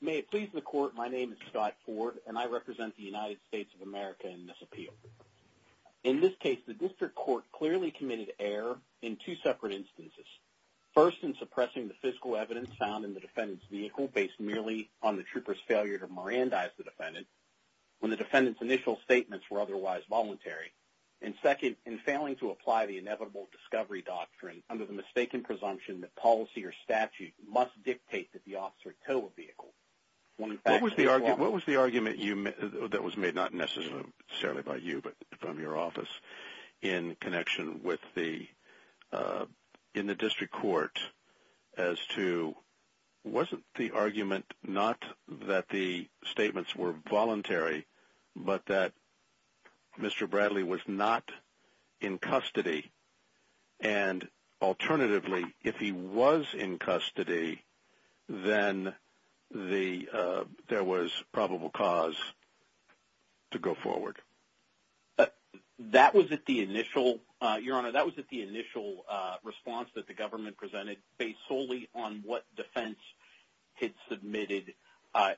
May it please the Court, my name is Scott Ford and I represent the United States of In this case the District Court clearly committed error in two separate instances, first in suppressing the physical evidence found in the defendant's vehicle based merely on the trooper's failure to Mirandize the defendant when the defendant's initial statements were otherwise voluntary, and second in failing to apply the inevitable discovery doctrine under the mistaken presumption that policy or statute must dictate that the officer tow a vehicle. What was the argument that was made not necessarily by you but from your office in connection with the District Court as to wasn't the argument not that the statements were voluntary but that Mr. Bradley was not in custody and alternatively if he was in custody then there was probable cause to go forward? That was at the initial response that the government presented based solely on what defense had submitted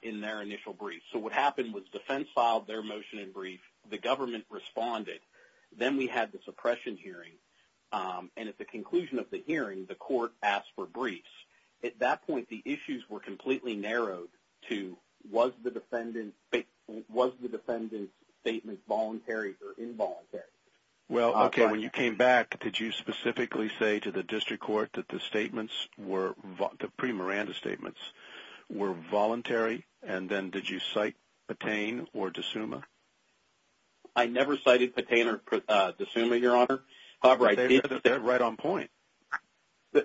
in their initial brief. So what happened was defense filed their motion in brief, the government responded, then we had the suppression hearing and at the conclusion of the hearing the Court asked for briefs. At that point the issues were completely narrowed to was the defendant's statement voluntary or involuntary? Well, okay, when you came back did you specifically say to the District Court that the statements were, the pre-Miranda statements, were voluntary and then did you cite Patain or D'Souma? I never cited Patain or D'Souma, Your Honor, however, I did say... They're right on point.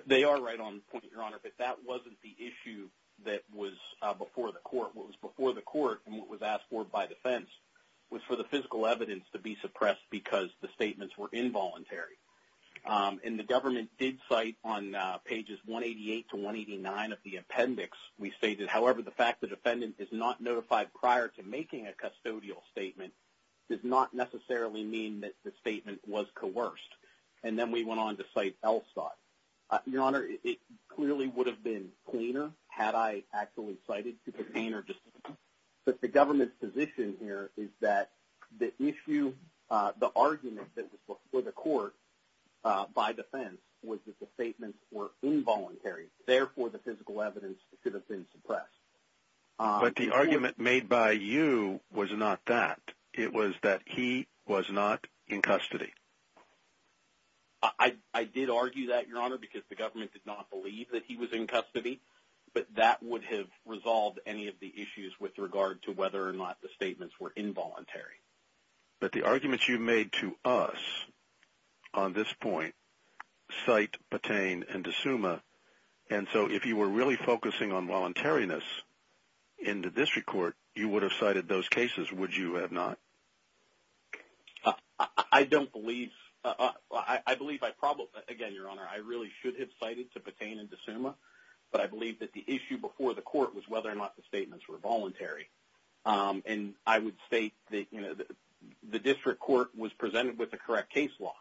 They are right on point, Your Honor, but that wasn't the issue that was before the Court. What was before the Court and what was asked for by defense was for the physical evidence to be suppressed because the statements were involuntary. And the government did cite on pages 188 to 189 of the appendix, we stated, however, the fact the defendant is not notified prior to making a custodial statement does not necessarily mean that the statement was coerced. And then we went on to cite Elstad. Your Honor, it clearly would have been cleaner had I actually cited Patain or D'Souma, but the government's position here is that the issue, the argument that was before the Court by defense was that the statements were involuntary, therefore, the physical evidence should have been suppressed. But the argument made by you was not that. It was that he was not in custody. I did argue that, Your Honor, because the government did not believe that he was in whether or not the statements were involuntary. But the arguments you made to us on this point cite Patain and D'Souma, and so if you were really focusing on voluntariness in the District Court, you would have cited those cases, would you have not? I don't believe, I believe I probably, again, Your Honor, I really should have cited to Patain and D'Souma, but I believe that the issue before the Court was whether or not the statements were voluntary. And I would state that, you know, the District Court was presented with the correct case law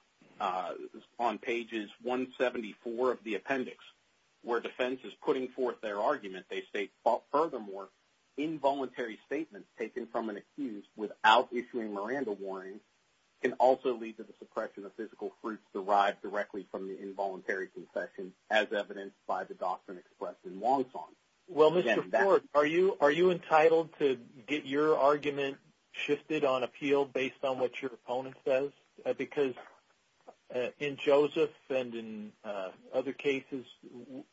on pages 174 of the appendix where defense is putting forth their argument. They state, furthermore, involuntary statements taken from an accused without issuing Miranda warnings can also lead to the suppression of physical proofs derived directly from the involuntary confession as evidenced by the doctrine expressed in Wong Song. Well, Mr. Ford, are you entitled to get your argument shifted on appeal based on what your opponent says? Because in Joseph and in other cases,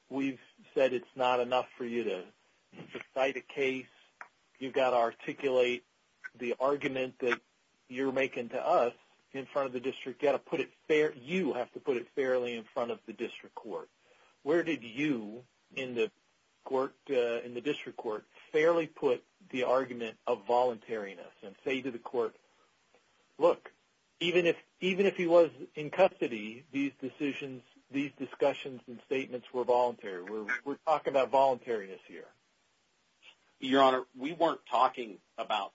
we've said it's not enough for you to cite a case, you've got to articulate the argument that you're making to us in front of the District Court. You've got to put it fairly, you have to put it fairly in front of the District Court. Where did you in the District Court fairly put the argument of voluntariness and say to the Court, look, even if he was in custody, these decisions, these discussions and statements were voluntary. We're talking about voluntariness here. Your Honor, we weren't talking about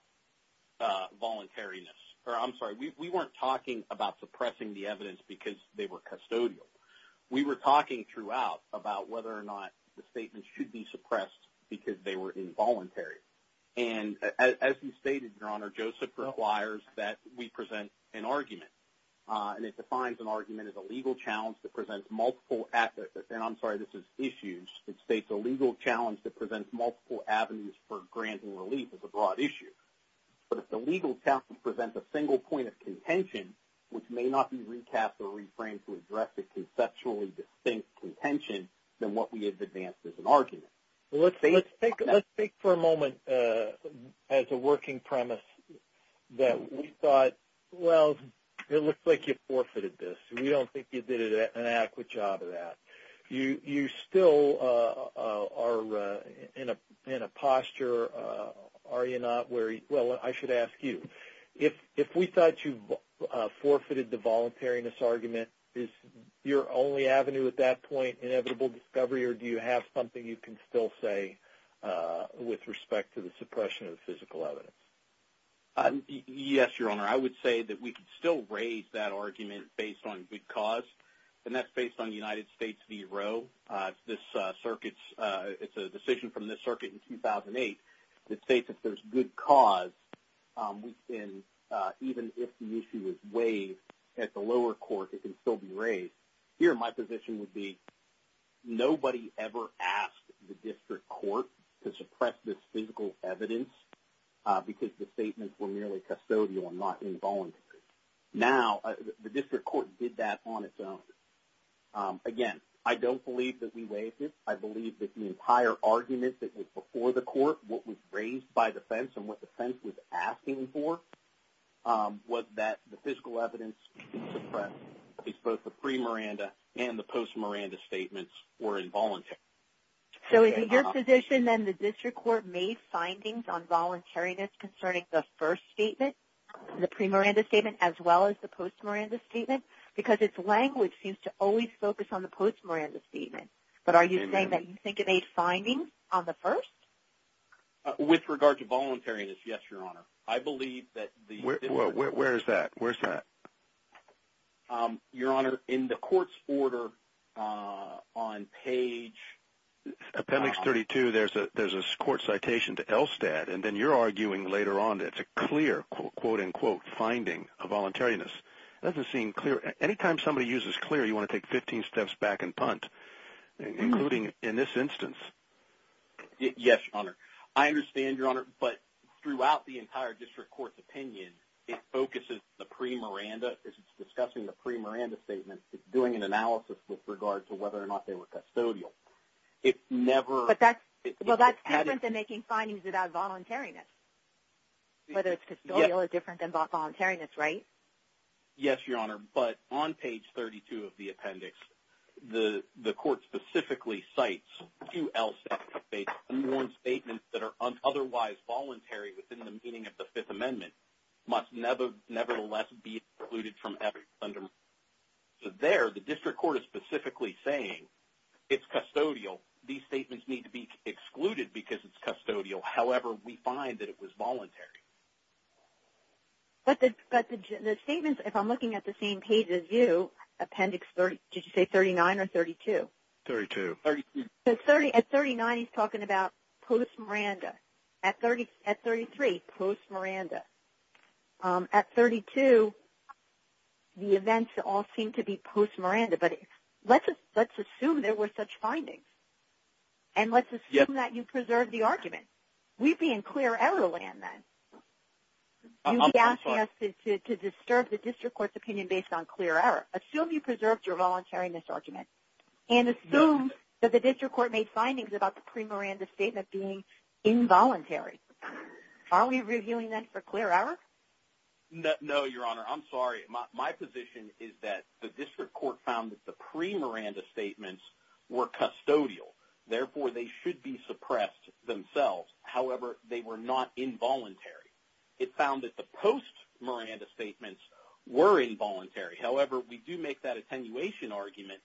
voluntariness, or I'm sorry, we weren't talking about suppressing the evidence because they were custodial. We were talking throughout about whether or not the statements should be suppressed because they were involuntary. And as you stated, Your Honor, Joseph requires that we present an argument. And it defines an argument as a legal challenge that presents multiple, and I'm sorry, this is issues, it states a legal challenge that presents multiple avenues for granting relief as a broad issue. But if the legal challenge presents a single point of contention, which may not be recapped or reframed to address a conceptually distinct contention, then what we have advanced is an argument. Let's take for a moment as a working premise that we thought, well, it looks like you forfeited this. We don't think you did an adequate job of that. You still are in a posture, are you not, where, well, I should ask you. If we thought you forfeited the voluntariness argument, is your only avenue at that point inevitable discovery, or do you have something you can still say with respect to the suppression of physical evidence? Yes, Your Honor. I would say that we could still raise that argument based on good cause, and that's based on United States v. Roe, it's this circuit's, it's a decision from this circuit in 2008 that states if there's good cause, we can, even if the issue is waived at the lower court, it can still be raised. Here my position would be nobody ever asked the district court to suppress this physical evidence because the statements were merely custodial and not involuntary. Now the district court did that on its own. Again, I don't believe that we waived it. I believe that the entire argument that was before the court, what was raised by the defense and what the defense was asking for, was that the physical evidence should be suppressed because both the pre-Miranda and the post-Miranda statements were involuntary. So is it your position then the district court made findings on voluntariness concerning the first statement, the pre-Miranda statement, as well as the post-Miranda statement? Because its language seems to always focus on the post-Miranda statement. But are you saying that you think it made findings on the first? With regard to voluntariness, yes, Your Honor. I believe that the physical evidence... Where is that? Where's that? Your Honor, in the court's order on page... Appendix 32, there's a court citation to ELSTAD, and then you're arguing later on that it's a clear, quote-unquote, finding of voluntariness. It doesn't seem clear. Any time somebody uses clear, you want to take 15 steps back and punt, including in this instance. Yes, Your Honor. I understand, Your Honor, but throughout the entire district court's opinion, it focuses the pre-Miranda, as it's discussing the pre-Miranda statement, doing an analysis with regard to whether or not they were custodial. It never... But that's different than making findings about voluntariness. Whether it's custodial is different than about voluntariness, right? Yes, Your Honor, but on page 32 of the appendix, the court specifically cites two ELSTAD statements, and one statement that are otherwise voluntary within the meaning of the Fifth Amendment, must nevertheless be excluded from every... So there, the district court is specifically saying it's custodial. These statements need to be excluded because it's custodial. However, we find that it was voluntary. But the statements, if I'm looking at the same page as you, appendix, did you say 39 or 32? 32. At 39, he's talking about post-Miranda. At 33, post-Miranda. At 32, the events all seem to be post-Miranda, but let's assume there were such findings, and let's assume that you preserved the argument. We'd be in clear error land then. You'd be asking us to disturb the district court's opinion based on clear error. Assume you preserved your voluntary misargument, and assume that the district court made findings about the pre-Miranda statement being involuntary. Are we reviewing that for clear error? No, Your Honor, I'm sorry. My position is that the district court found that the pre-Miranda statements were custodial. Therefore, they should be suppressed themselves. However, they were not involuntary. It found that the post-Miranda statements were involuntary. However, we do make that attenuation argument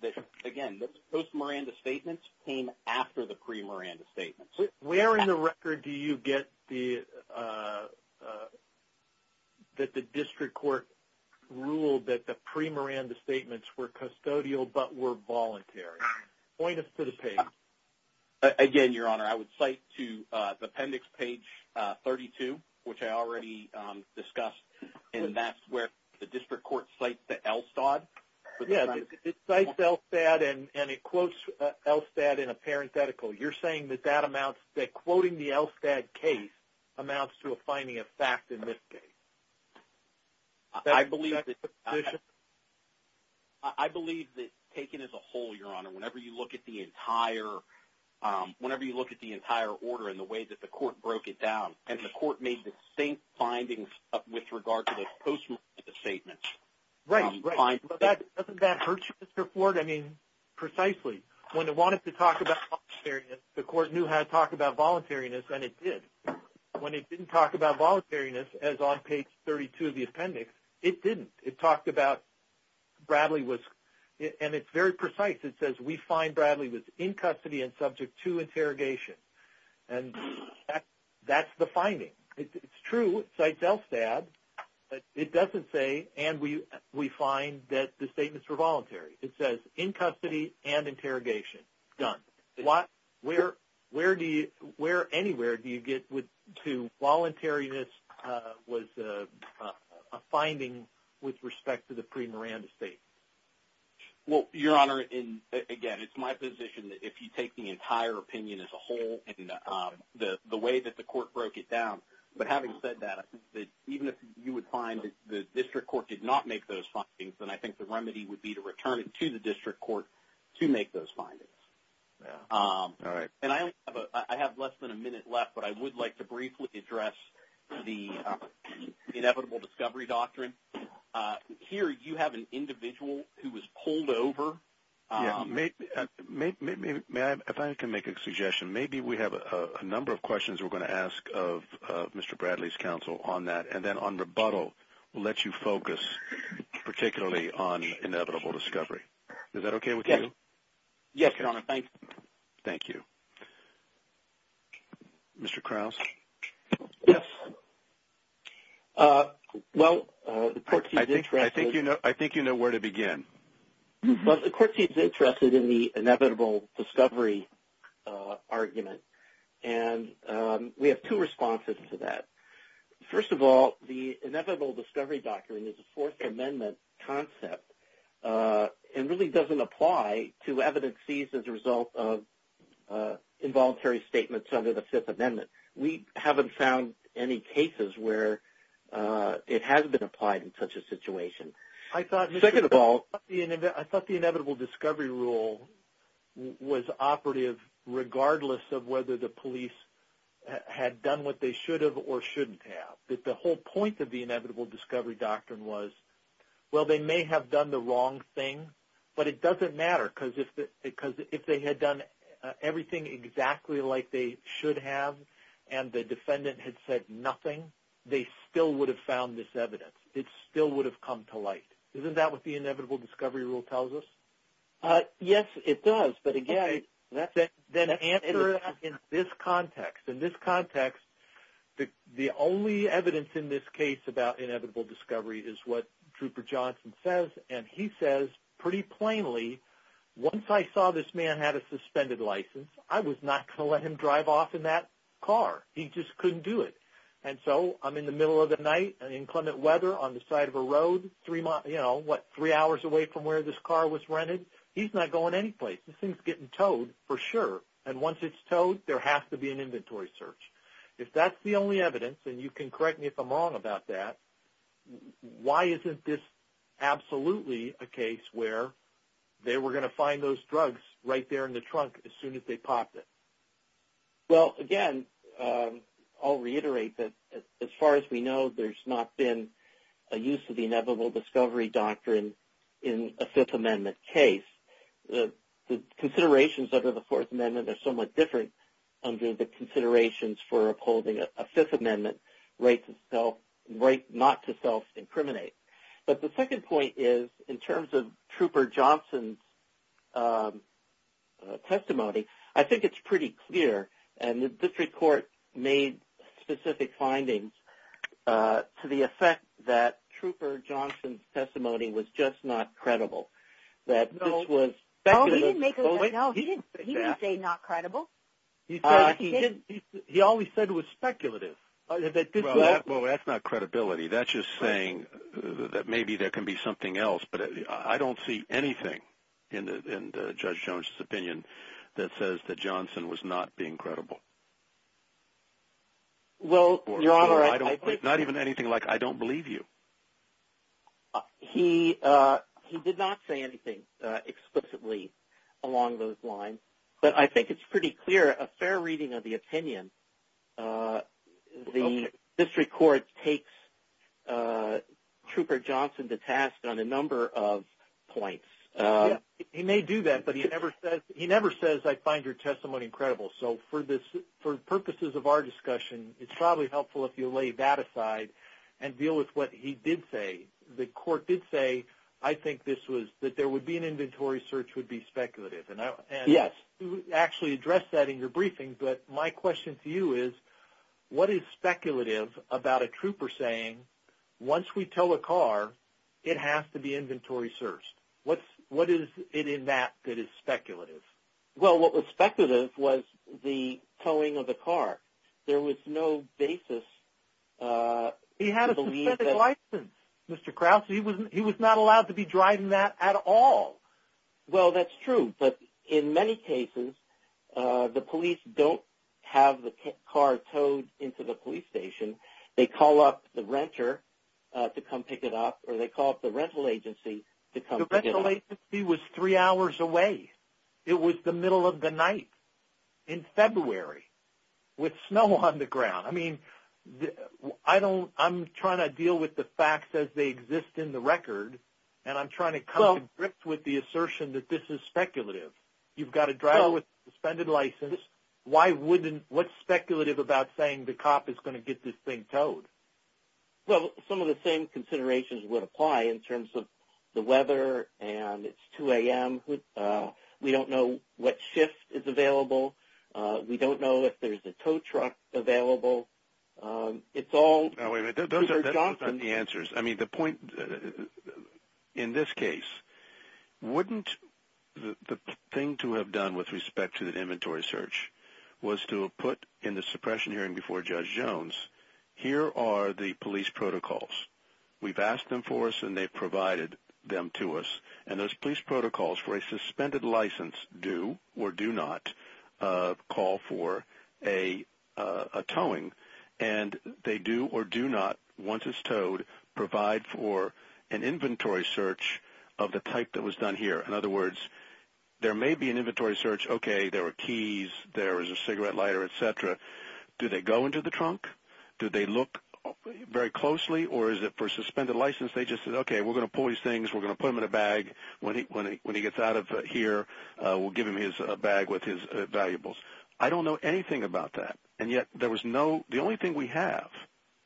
that, again, the post-Miranda statements came after the pre-Miranda statements. Where in the record do you get that the district court ruled that the pre-Miranda statements were custodial but were voluntary? Point us to the page. Again, Your Honor, I would cite to the appendix page 32, which I already discussed, and that's where the district court cites the LSTAD. Yeah, it cites LSTAD and it quotes LSTAD in a parenthetical. You're saying that that amounts, that quoting the LSTAD case amounts to a finding of fact I believe that... That's your second position? Whenever you look at the entire order and the way that the court broke it down, and the court made the same findings with regard to the post-Miranda statements. Right, right. But doesn't that hurt you, Mr. Ford? I mean, precisely. When it wanted to talk about voluntariness, the court knew how to talk about voluntariness and it did. When it didn't talk about voluntariness, as on page 32 of the appendix, it didn't. It talked about Bradley was... And it's very precise. It says, we find Bradley was in custody and subject to interrogation, and that's the finding. It's true, it cites LSTAD, but it doesn't say, and we find that the statements were voluntary. It says, in custody and interrogation, done. Where anywhere do you get to voluntariness was a finding with respect to the pre-Miranda statement? Well, Your Honor, again, it's my position that if you take the entire opinion as a whole and the way that the court broke it down, but having said that, I think that even if you would find that the district court did not make those findings, then I think the remedy would be to return it to the district court to make those findings. All right. And I have less than a minute left, but I would like to briefly address the inevitable discovery doctrine. Here, you have an individual who was pulled over. If I can make a suggestion, maybe we have a number of questions we're going to ask of Mr. Bradley's counsel on that, and then on rebuttal, we'll let you focus particularly on inevitable discovery. Is that okay with you? Yes, Your Honor. Thank you. Thank you. Mr. Krause? Yes. Well, the court seems interested... I think you know where to begin. But the court seems interested in the inevitable discovery argument, and we have two responses to that. First of all, the inevitable discovery doctrine is a Fourth Amendment concept and really doesn't apply to evidences as a result of involuntary statements under the Fifth Amendment. We haven't found any cases where it hasn't been applied in such a situation. Second of all... I thought the inevitable discovery rule was operative regardless of whether the police had done what they should have or shouldn't have, that the whole point of the inevitable discovery doctrine was, well, they may have done the wrong thing, but it doesn't matter because if they had done everything exactly like they should have and the defendant had said nothing, they still would have found this evidence. It still would have come to light. Isn't that what the inevitable discovery rule tells us? Yes, it does. But again... Then answer it in this context. In this context, the only evidence in this case about inevitable discovery is what Trooper Plainly... Once I saw this man had a suspended license, I was not going to let him drive off in that car. He just couldn't do it. So, I'm in the middle of the night in inclement weather on the side of a road three hours away from where this car was rented. He's not going anyplace. This thing is getting towed for sure. Once it's towed, there has to be an inventory search. If that's the only evidence, and you can correct me if I'm wrong about that, why isn't this absolutely a case where they were going to find those drugs right there in the trunk as soon as they popped it? Well, again, I'll reiterate that as far as we know, there's not been a use of the inevitable discovery doctrine in a Fifth Amendment case. The considerations under the Fourth Amendment are somewhat different under the considerations for upholding a Fifth Amendment right not to self-incriminate. But the second point is, in terms of Trooper Johnson's testimony, I think it's pretty clear and the district court made specific findings to the effect that Trooper Johnson's testimony was just not credible. No, he didn't say not credible. He always said it was speculative. Well, that's not credibility. That's just saying that maybe there can be something else, but I don't see anything in Judge Jones's opinion that says that Johnson was not being credible. Well, Your Honor, I think... Not even anything like, I don't believe you. He did not say anything explicitly along those lines, but I think it's pretty clear. A fair reading of the opinion, the district court takes Trooper Johnson to task on a number of points. He may do that, but he never says, I find your testimony incredible. So for purposes of our discussion, it's probably helpful if you lay that aside and deal with what he did say. The court did say, I think that there would be an inventory search would be speculative. Yes. You actually addressed that in your briefing, but my question to you is, what is speculative about a trooper saying, once we tow a car, it has to be inventory searched? What is it in that that is speculative? Well, what was speculative was the towing of the car. There was no basis... He had a suspended license, Mr. Krause. He was not allowed to be driving that at all. Well, that's true, but in many cases, the police don't have the car towed into the police station. They call up the renter to come pick it up, or they call up the rental agency to come pick it up. The rental agency was three hours away. It was the middle of the night in February with snow on the ground. I mean, I'm trying to deal with the facts as they exist in the record, and I'm trying to come to grips with the assertion that this is speculative. You've got a driver with a suspended license. Why wouldn't... What's speculative about saying the cop is going to get this thing towed? Well, some of the same considerations would apply in terms of the weather and it's 2 a.m. We don't know what shift is available. We don't know if there's a tow truck available. It's all... Now, wait a minute. Those aren't the answers. I mean, the point in this case, wouldn't the thing to have done with respect to the inventory search was to have put in the suppression hearing before Judge Jones, here are the police protocols. We've asked them for us, and they've provided them to us. And those police protocols for a suspended license do or do not call for a towing, and they do or do not, once it's towed, provide for an inventory search of the type that was done here. In other words, there may be an inventory search, okay, there were keys, there was a cigarette lighter, et cetera. Do they go into the trunk? Do they look very closely, or is it for a suspended license, they just said, okay, we're going to pull these things, we're going to put them in a bag. When he gets out of here, we'll give him his bag with his valuables. I don't know anything about that. And yet, there was no, the only thing we have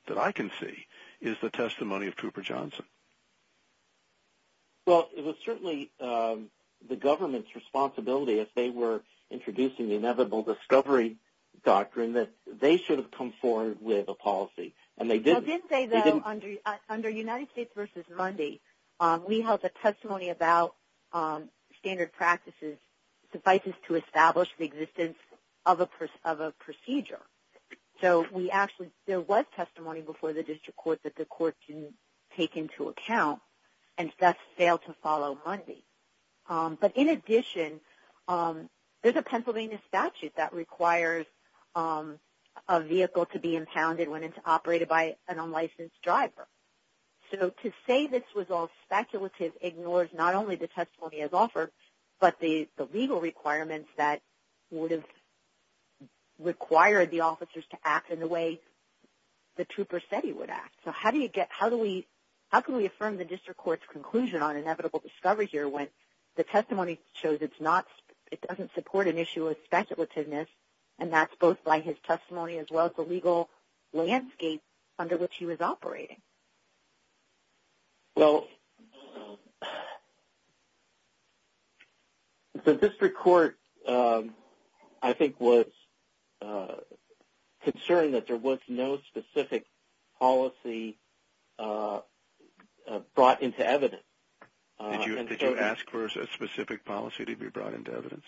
that I can see is the testimony of Cooper Johnson. Well, it was certainly the government's responsibility, if they were introducing the inevitable discovery doctrine, that they should have come forward with a policy, and they didn't. Well, didn't they, though, under United States v. Mundy, we held the testimony about standard practices suffices to establish the existence of a procedure. So we actually, there was testimony before the district court that the court didn't take into account, and that failed to follow Mundy. But in addition, there's a Pennsylvania statute that requires a vehicle to be impounded when it's operated by an unlicensed driver. So to say this was all speculative ignores not only the testimony as offered, but the legal requirements that would have required the officers to act in the way the trooper said he would act. So how do you get, how do we, how can we affirm the district court's conclusion on inevitable discovery here when the testimony shows it's not, it doesn't support an issue of speculativeness, and that's both by his testimony as well as the legal landscape under which he was operating. Well, the district court, I think, was concerned that there was no specific policy brought into evidence. Did you ask for a specific policy to be brought into evidence?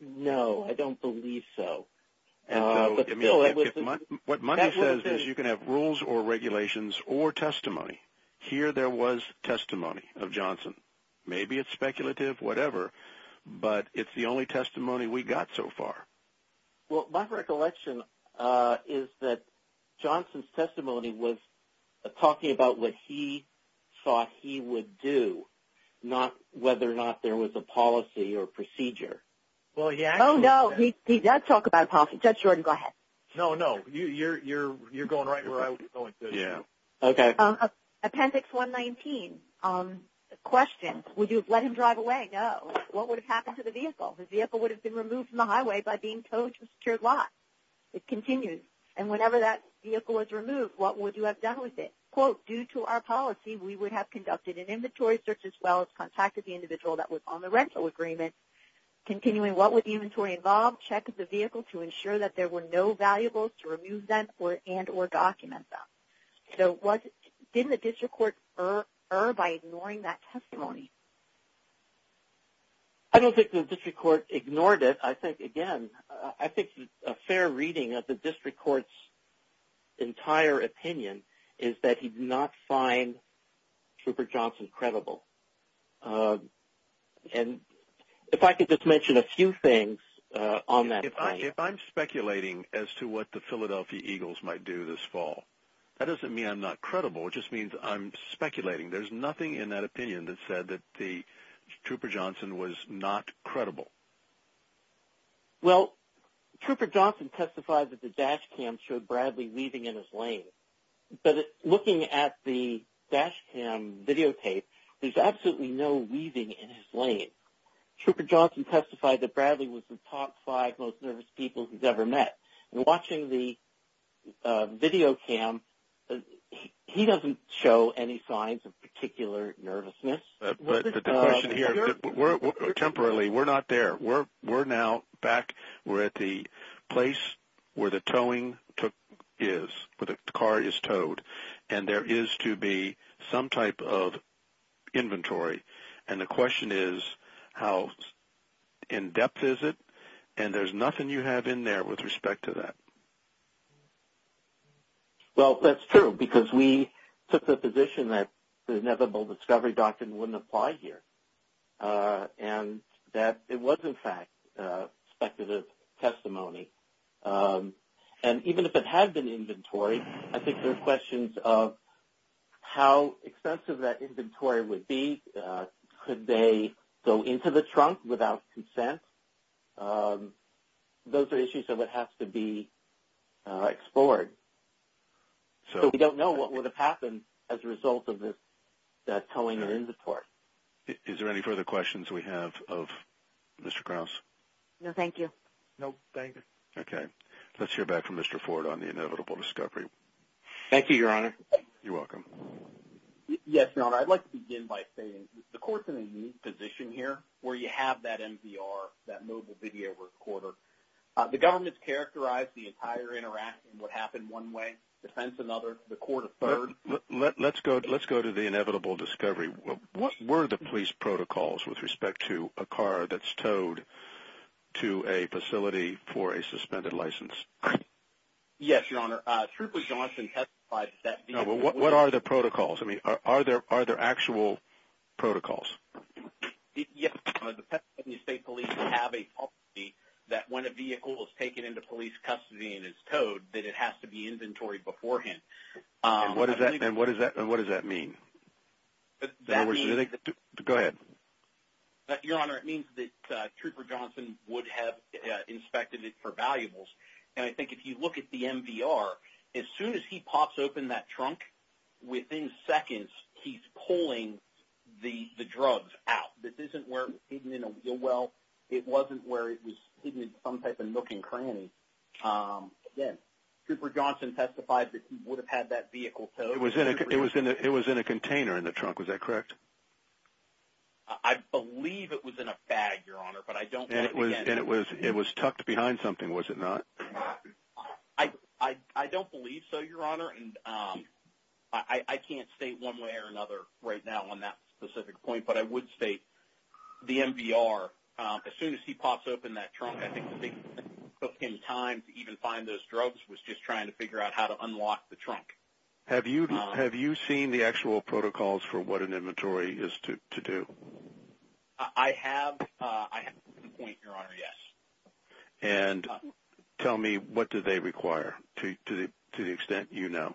No, I don't believe so. What Mundy says is you can have rules or regulations or testimony. Here there was testimony of Johnson. Maybe it's speculative, whatever, but it's the only testimony we got so far. Well, my recollection is that Johnson's testimony was talking about what he thought he would do, not whether or not there was a policy or procedure. Oh, no, he does talk about a policy. Judge Jordan, go ahead. No, no, you're going right where I was going. Yeah. Okay. Appendix 119, question, would you have let him drive away? No. What would have happened to the vehicle? The vehicle would have been removed from the highway by being towed to a secured lot. It continues. And whenever that vehicle was removed, what would you have done with it? Quote, due to our policy, we would have conducted an inventory search as well as contacted the vehicle. Continuing, what would the inventory involve? Check the vehicle to ensure that there were no valuables to remove them and or document them. So didn't the district court err by ignoring that testimony? I don't think the district court ignored it. I think, again, I think a fair reading of the district court's entire opinion is that he did not find Rupert Johnson credible. And if I could just mention a few things on that point. If I'm speculating as to what the Philadelphia Eagles might do this fall, that doesn't mean I'm not credible. It just means I'm speculating. There's nothing in that opinion that said that the Rupert Johnson was not credible. Well, Rupert Johnson testified that the dash cam showed Bradley weaving in his lane. But looking at the dash cam videotape, there's absolutely no weaving in his lane. Rupert Johnson testified that Bradley was the top five most nervous people he's ever met. And watching the video cam, he doesn't show any signs of particular nervousness. But the question here, temporarily, we're not there. We're now back, we're at the place where the towing is, where the car is towed. And there is to be some type of inventory. And the question is, how in-depth is it? And there's nothing you have in there with respect to that. Well, that's true. Because we took the position that the inevitable discovery doctrine wouldn't apply here. And that it was, in fact, speculative testimony. And even if it had been inventory, I think there's questions of how extensive that inventory would be. Could they go into the trunk without consent? Those are issues that would have to be explored. So we don't know what would have happened as a result of this towing or inventory. Of course. Is there any further questions we have of Mr. Krause? No, thank you. No, thank you. Okay. Let's hear back from Mr. Ford on the inevitable discovery. Thank you, Your Honor. You're welcome. Yes, Your Honor. I'd like to begin by saying the court's in a unique position here, where you have that MVR, that mobile video recorder. The government's characterized the entire interaction, what happened one way, defense another, the court a third. Let's go to the inevitable discovery. What were the police protocols with respect to a car that's towed to a facility for a suspended license? Yes, Your Honor. Truthfully, Johnson testified that... What are the protocols? I mean, are there actual protocols? Yes. The Pennsylvania State Police have a policy that when a vehicle is taken into police custody and is towed, that it has to be inventory beforehand. And what does that mean? Go ahead. Your Honor, it means that Trooper Johnson would have inspected it for valuables. And I think if you look at the MVR, as soon as he pops open that trunk, within seconds, he's pulling the drugs out. This isn't where it was hidden in a wheel well. It wasn't where it was hidden in some type of nook and cranny. Again, Trooper Johnson testified that he would have had that vehicle towed. It was in a container in the trunk. Was that correct? I believe it was in a bag, Your Honor. And it was tucked behind something, was it not? I don't believe so, Your Honor. And I can't state one way or another right now on that specific point. But I would state the MVR, as soon as he pops open that trunk, I think the thing that took him time to even find those drugs was just trying to figure out how to unlock the trunk. Have you seen the actual protocols for what an inventory is to do? I have. I have seen the point, Your Honor, yes. And tell me, what do they require, to the extent you know?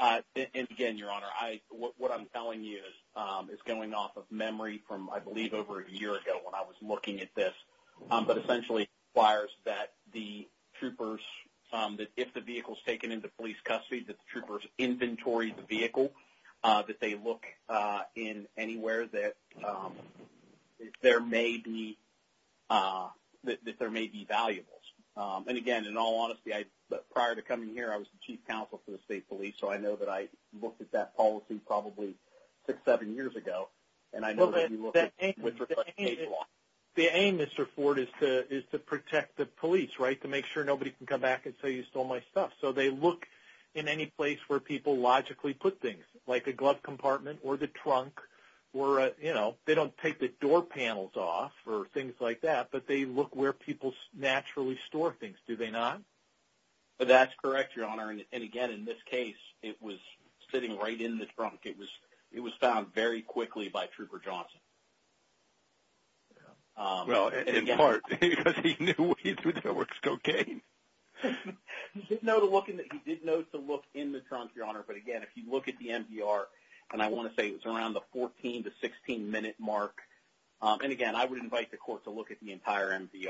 And again, Your Honor, what I'm telling you is going off of memory from, I believe, over a year ago when I was looking at this. But essentially, it requires that the troopers, that if the vehicle is taken into police custody, that the troopers inventory the vehicle, that they look in anywhere that there may be, that there may be valuables. And again, in all honesty, prior to coming here, I was the Chief Counsel for the State Police, so I know that I looked at that policy probably six, seven years ago. Well, the aim, Mr. Ford, is to protect the police, right? To make sure nobody can come back and say, you stole my stuff. So they look in any place where people logically put things, like a glove compartment or the trunk or, you know, they don't take the door panels off or things like that, but they look where people naturally store things, do they not? That's correct, Your Honor. And again, in this case, it was sitting right in the trunk. It was found very quickly by Trooper Johnson. Well, in part, because he knew we threw the works cocaine. He did know to look in the trunk, Your Honor, but again, if you look at the MVR, and I want to say it was around the 14 to 16-minute mark, and again, I would invite the court to look at the entire MVR.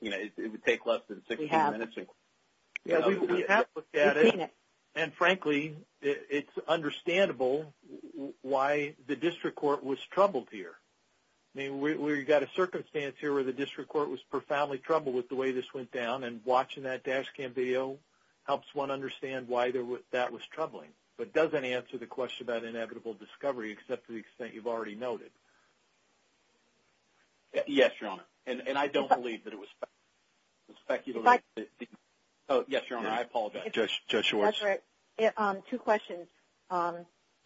You know, it would take less than 16 minutes. We have. We have looked at it. We've seen it. And frankly, it's understandable why the district court was troubled here. I mean, we've got a circumstance here where the district court was profoundly troubled with the way this went down, and watching that dash cam video helps one understand why that was troubling, but doesn't answer the question about inevitable discovery except to the extent you've already noted. Yes, Your Honor, and I don't believe that it was speculative. Oh, yes, Your Honor, I apologize. Judge Schwartz. That's all right. Two questions.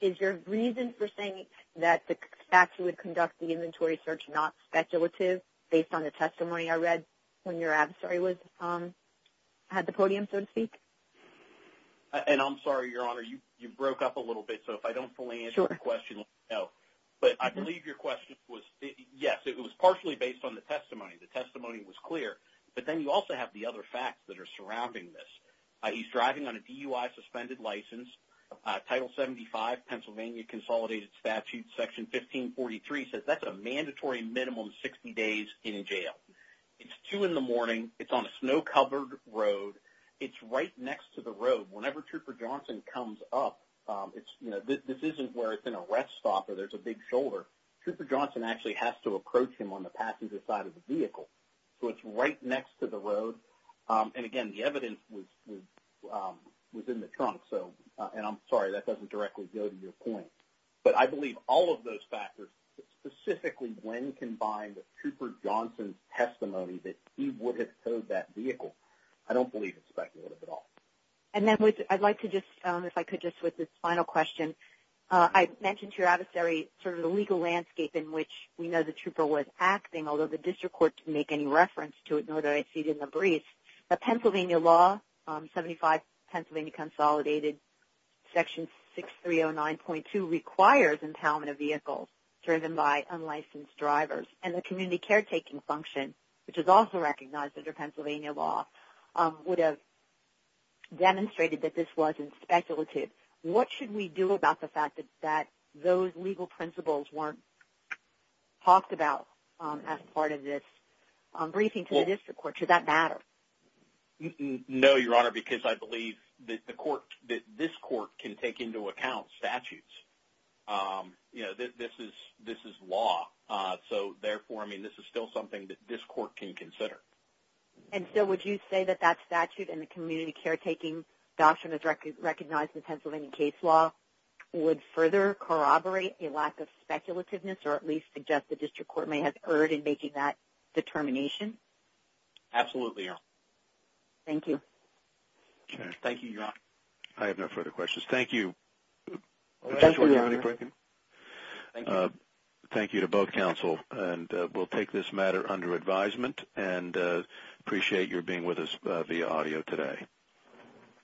Is your reason for saying that the facts would conduct the inventory search not speculative based on the testimony I read when your adversary had the podium, so to speak? And I'm sorry, Your Honor, you broke up a little bit, so if I don't fully answer the question, let me know, but I believe your question was, yes, it was partially based on the testimony. The testimony was clear, but then you also have the other facts that are surrounding this. He's driving on a DUI suspended license, Title 75, Pennsylvania Consolidated Statute, Section 1543 says that's a mandatory minimum 60 days in jail. It's 2 in the morning. It's on a snow-covered road. It's right next to the road. Whenever Trooper Johnson comes up, this isn't where it's an arrest stop or there's a big shoulder. Trooper Johnson actually has to approach him on the passenger side of the vehicle, so it's right next to the road, and again, the evidence was in the trunk, and I'm sorry, that doesn't directly go to your point, but I believe all of those factors, specifically when combined with Trooper Johnson's testimony that he would have towed that vehicle, I don't believe it's speculative at all. And then I'd like to just, if I could just with this final question, I mentioned to your adversary sort of the legal landscape in which we know the trooper was acting, although the to know that I exceeded in the brief, but Pennsylvania law, 75 Pennsylvania Consolidated Section 6309.2 requires impoundment of vehicles driven by unlicensed drivers, and the community caretaking function, which is also recognized under Pennsylvania law, would have demonstrated that this wasn't speculative. What should we do about the fact that those legal principles weren't talked about as part of this briefing to the district court? Should that matter? No, Your Honor, because I believe that the court, that this court can take into account statutes. You know, this is law, so therefore, I mean, this is still something that this court can consider. And so would you say that that statute and the community caretaking doctrine is recognized in Pennsylvania case law would further corroborate a lack of speculativeness, or at least suggest that the district court may have erred in making that determination? Absolutely, Your Honor. Thank you. Thank you, Your Honor. I have no further questions. Thank you. Thank you, Your Honor. Thank you to both counsel, and we'll take this matter under advisement, and appreciate your being with us via audio today.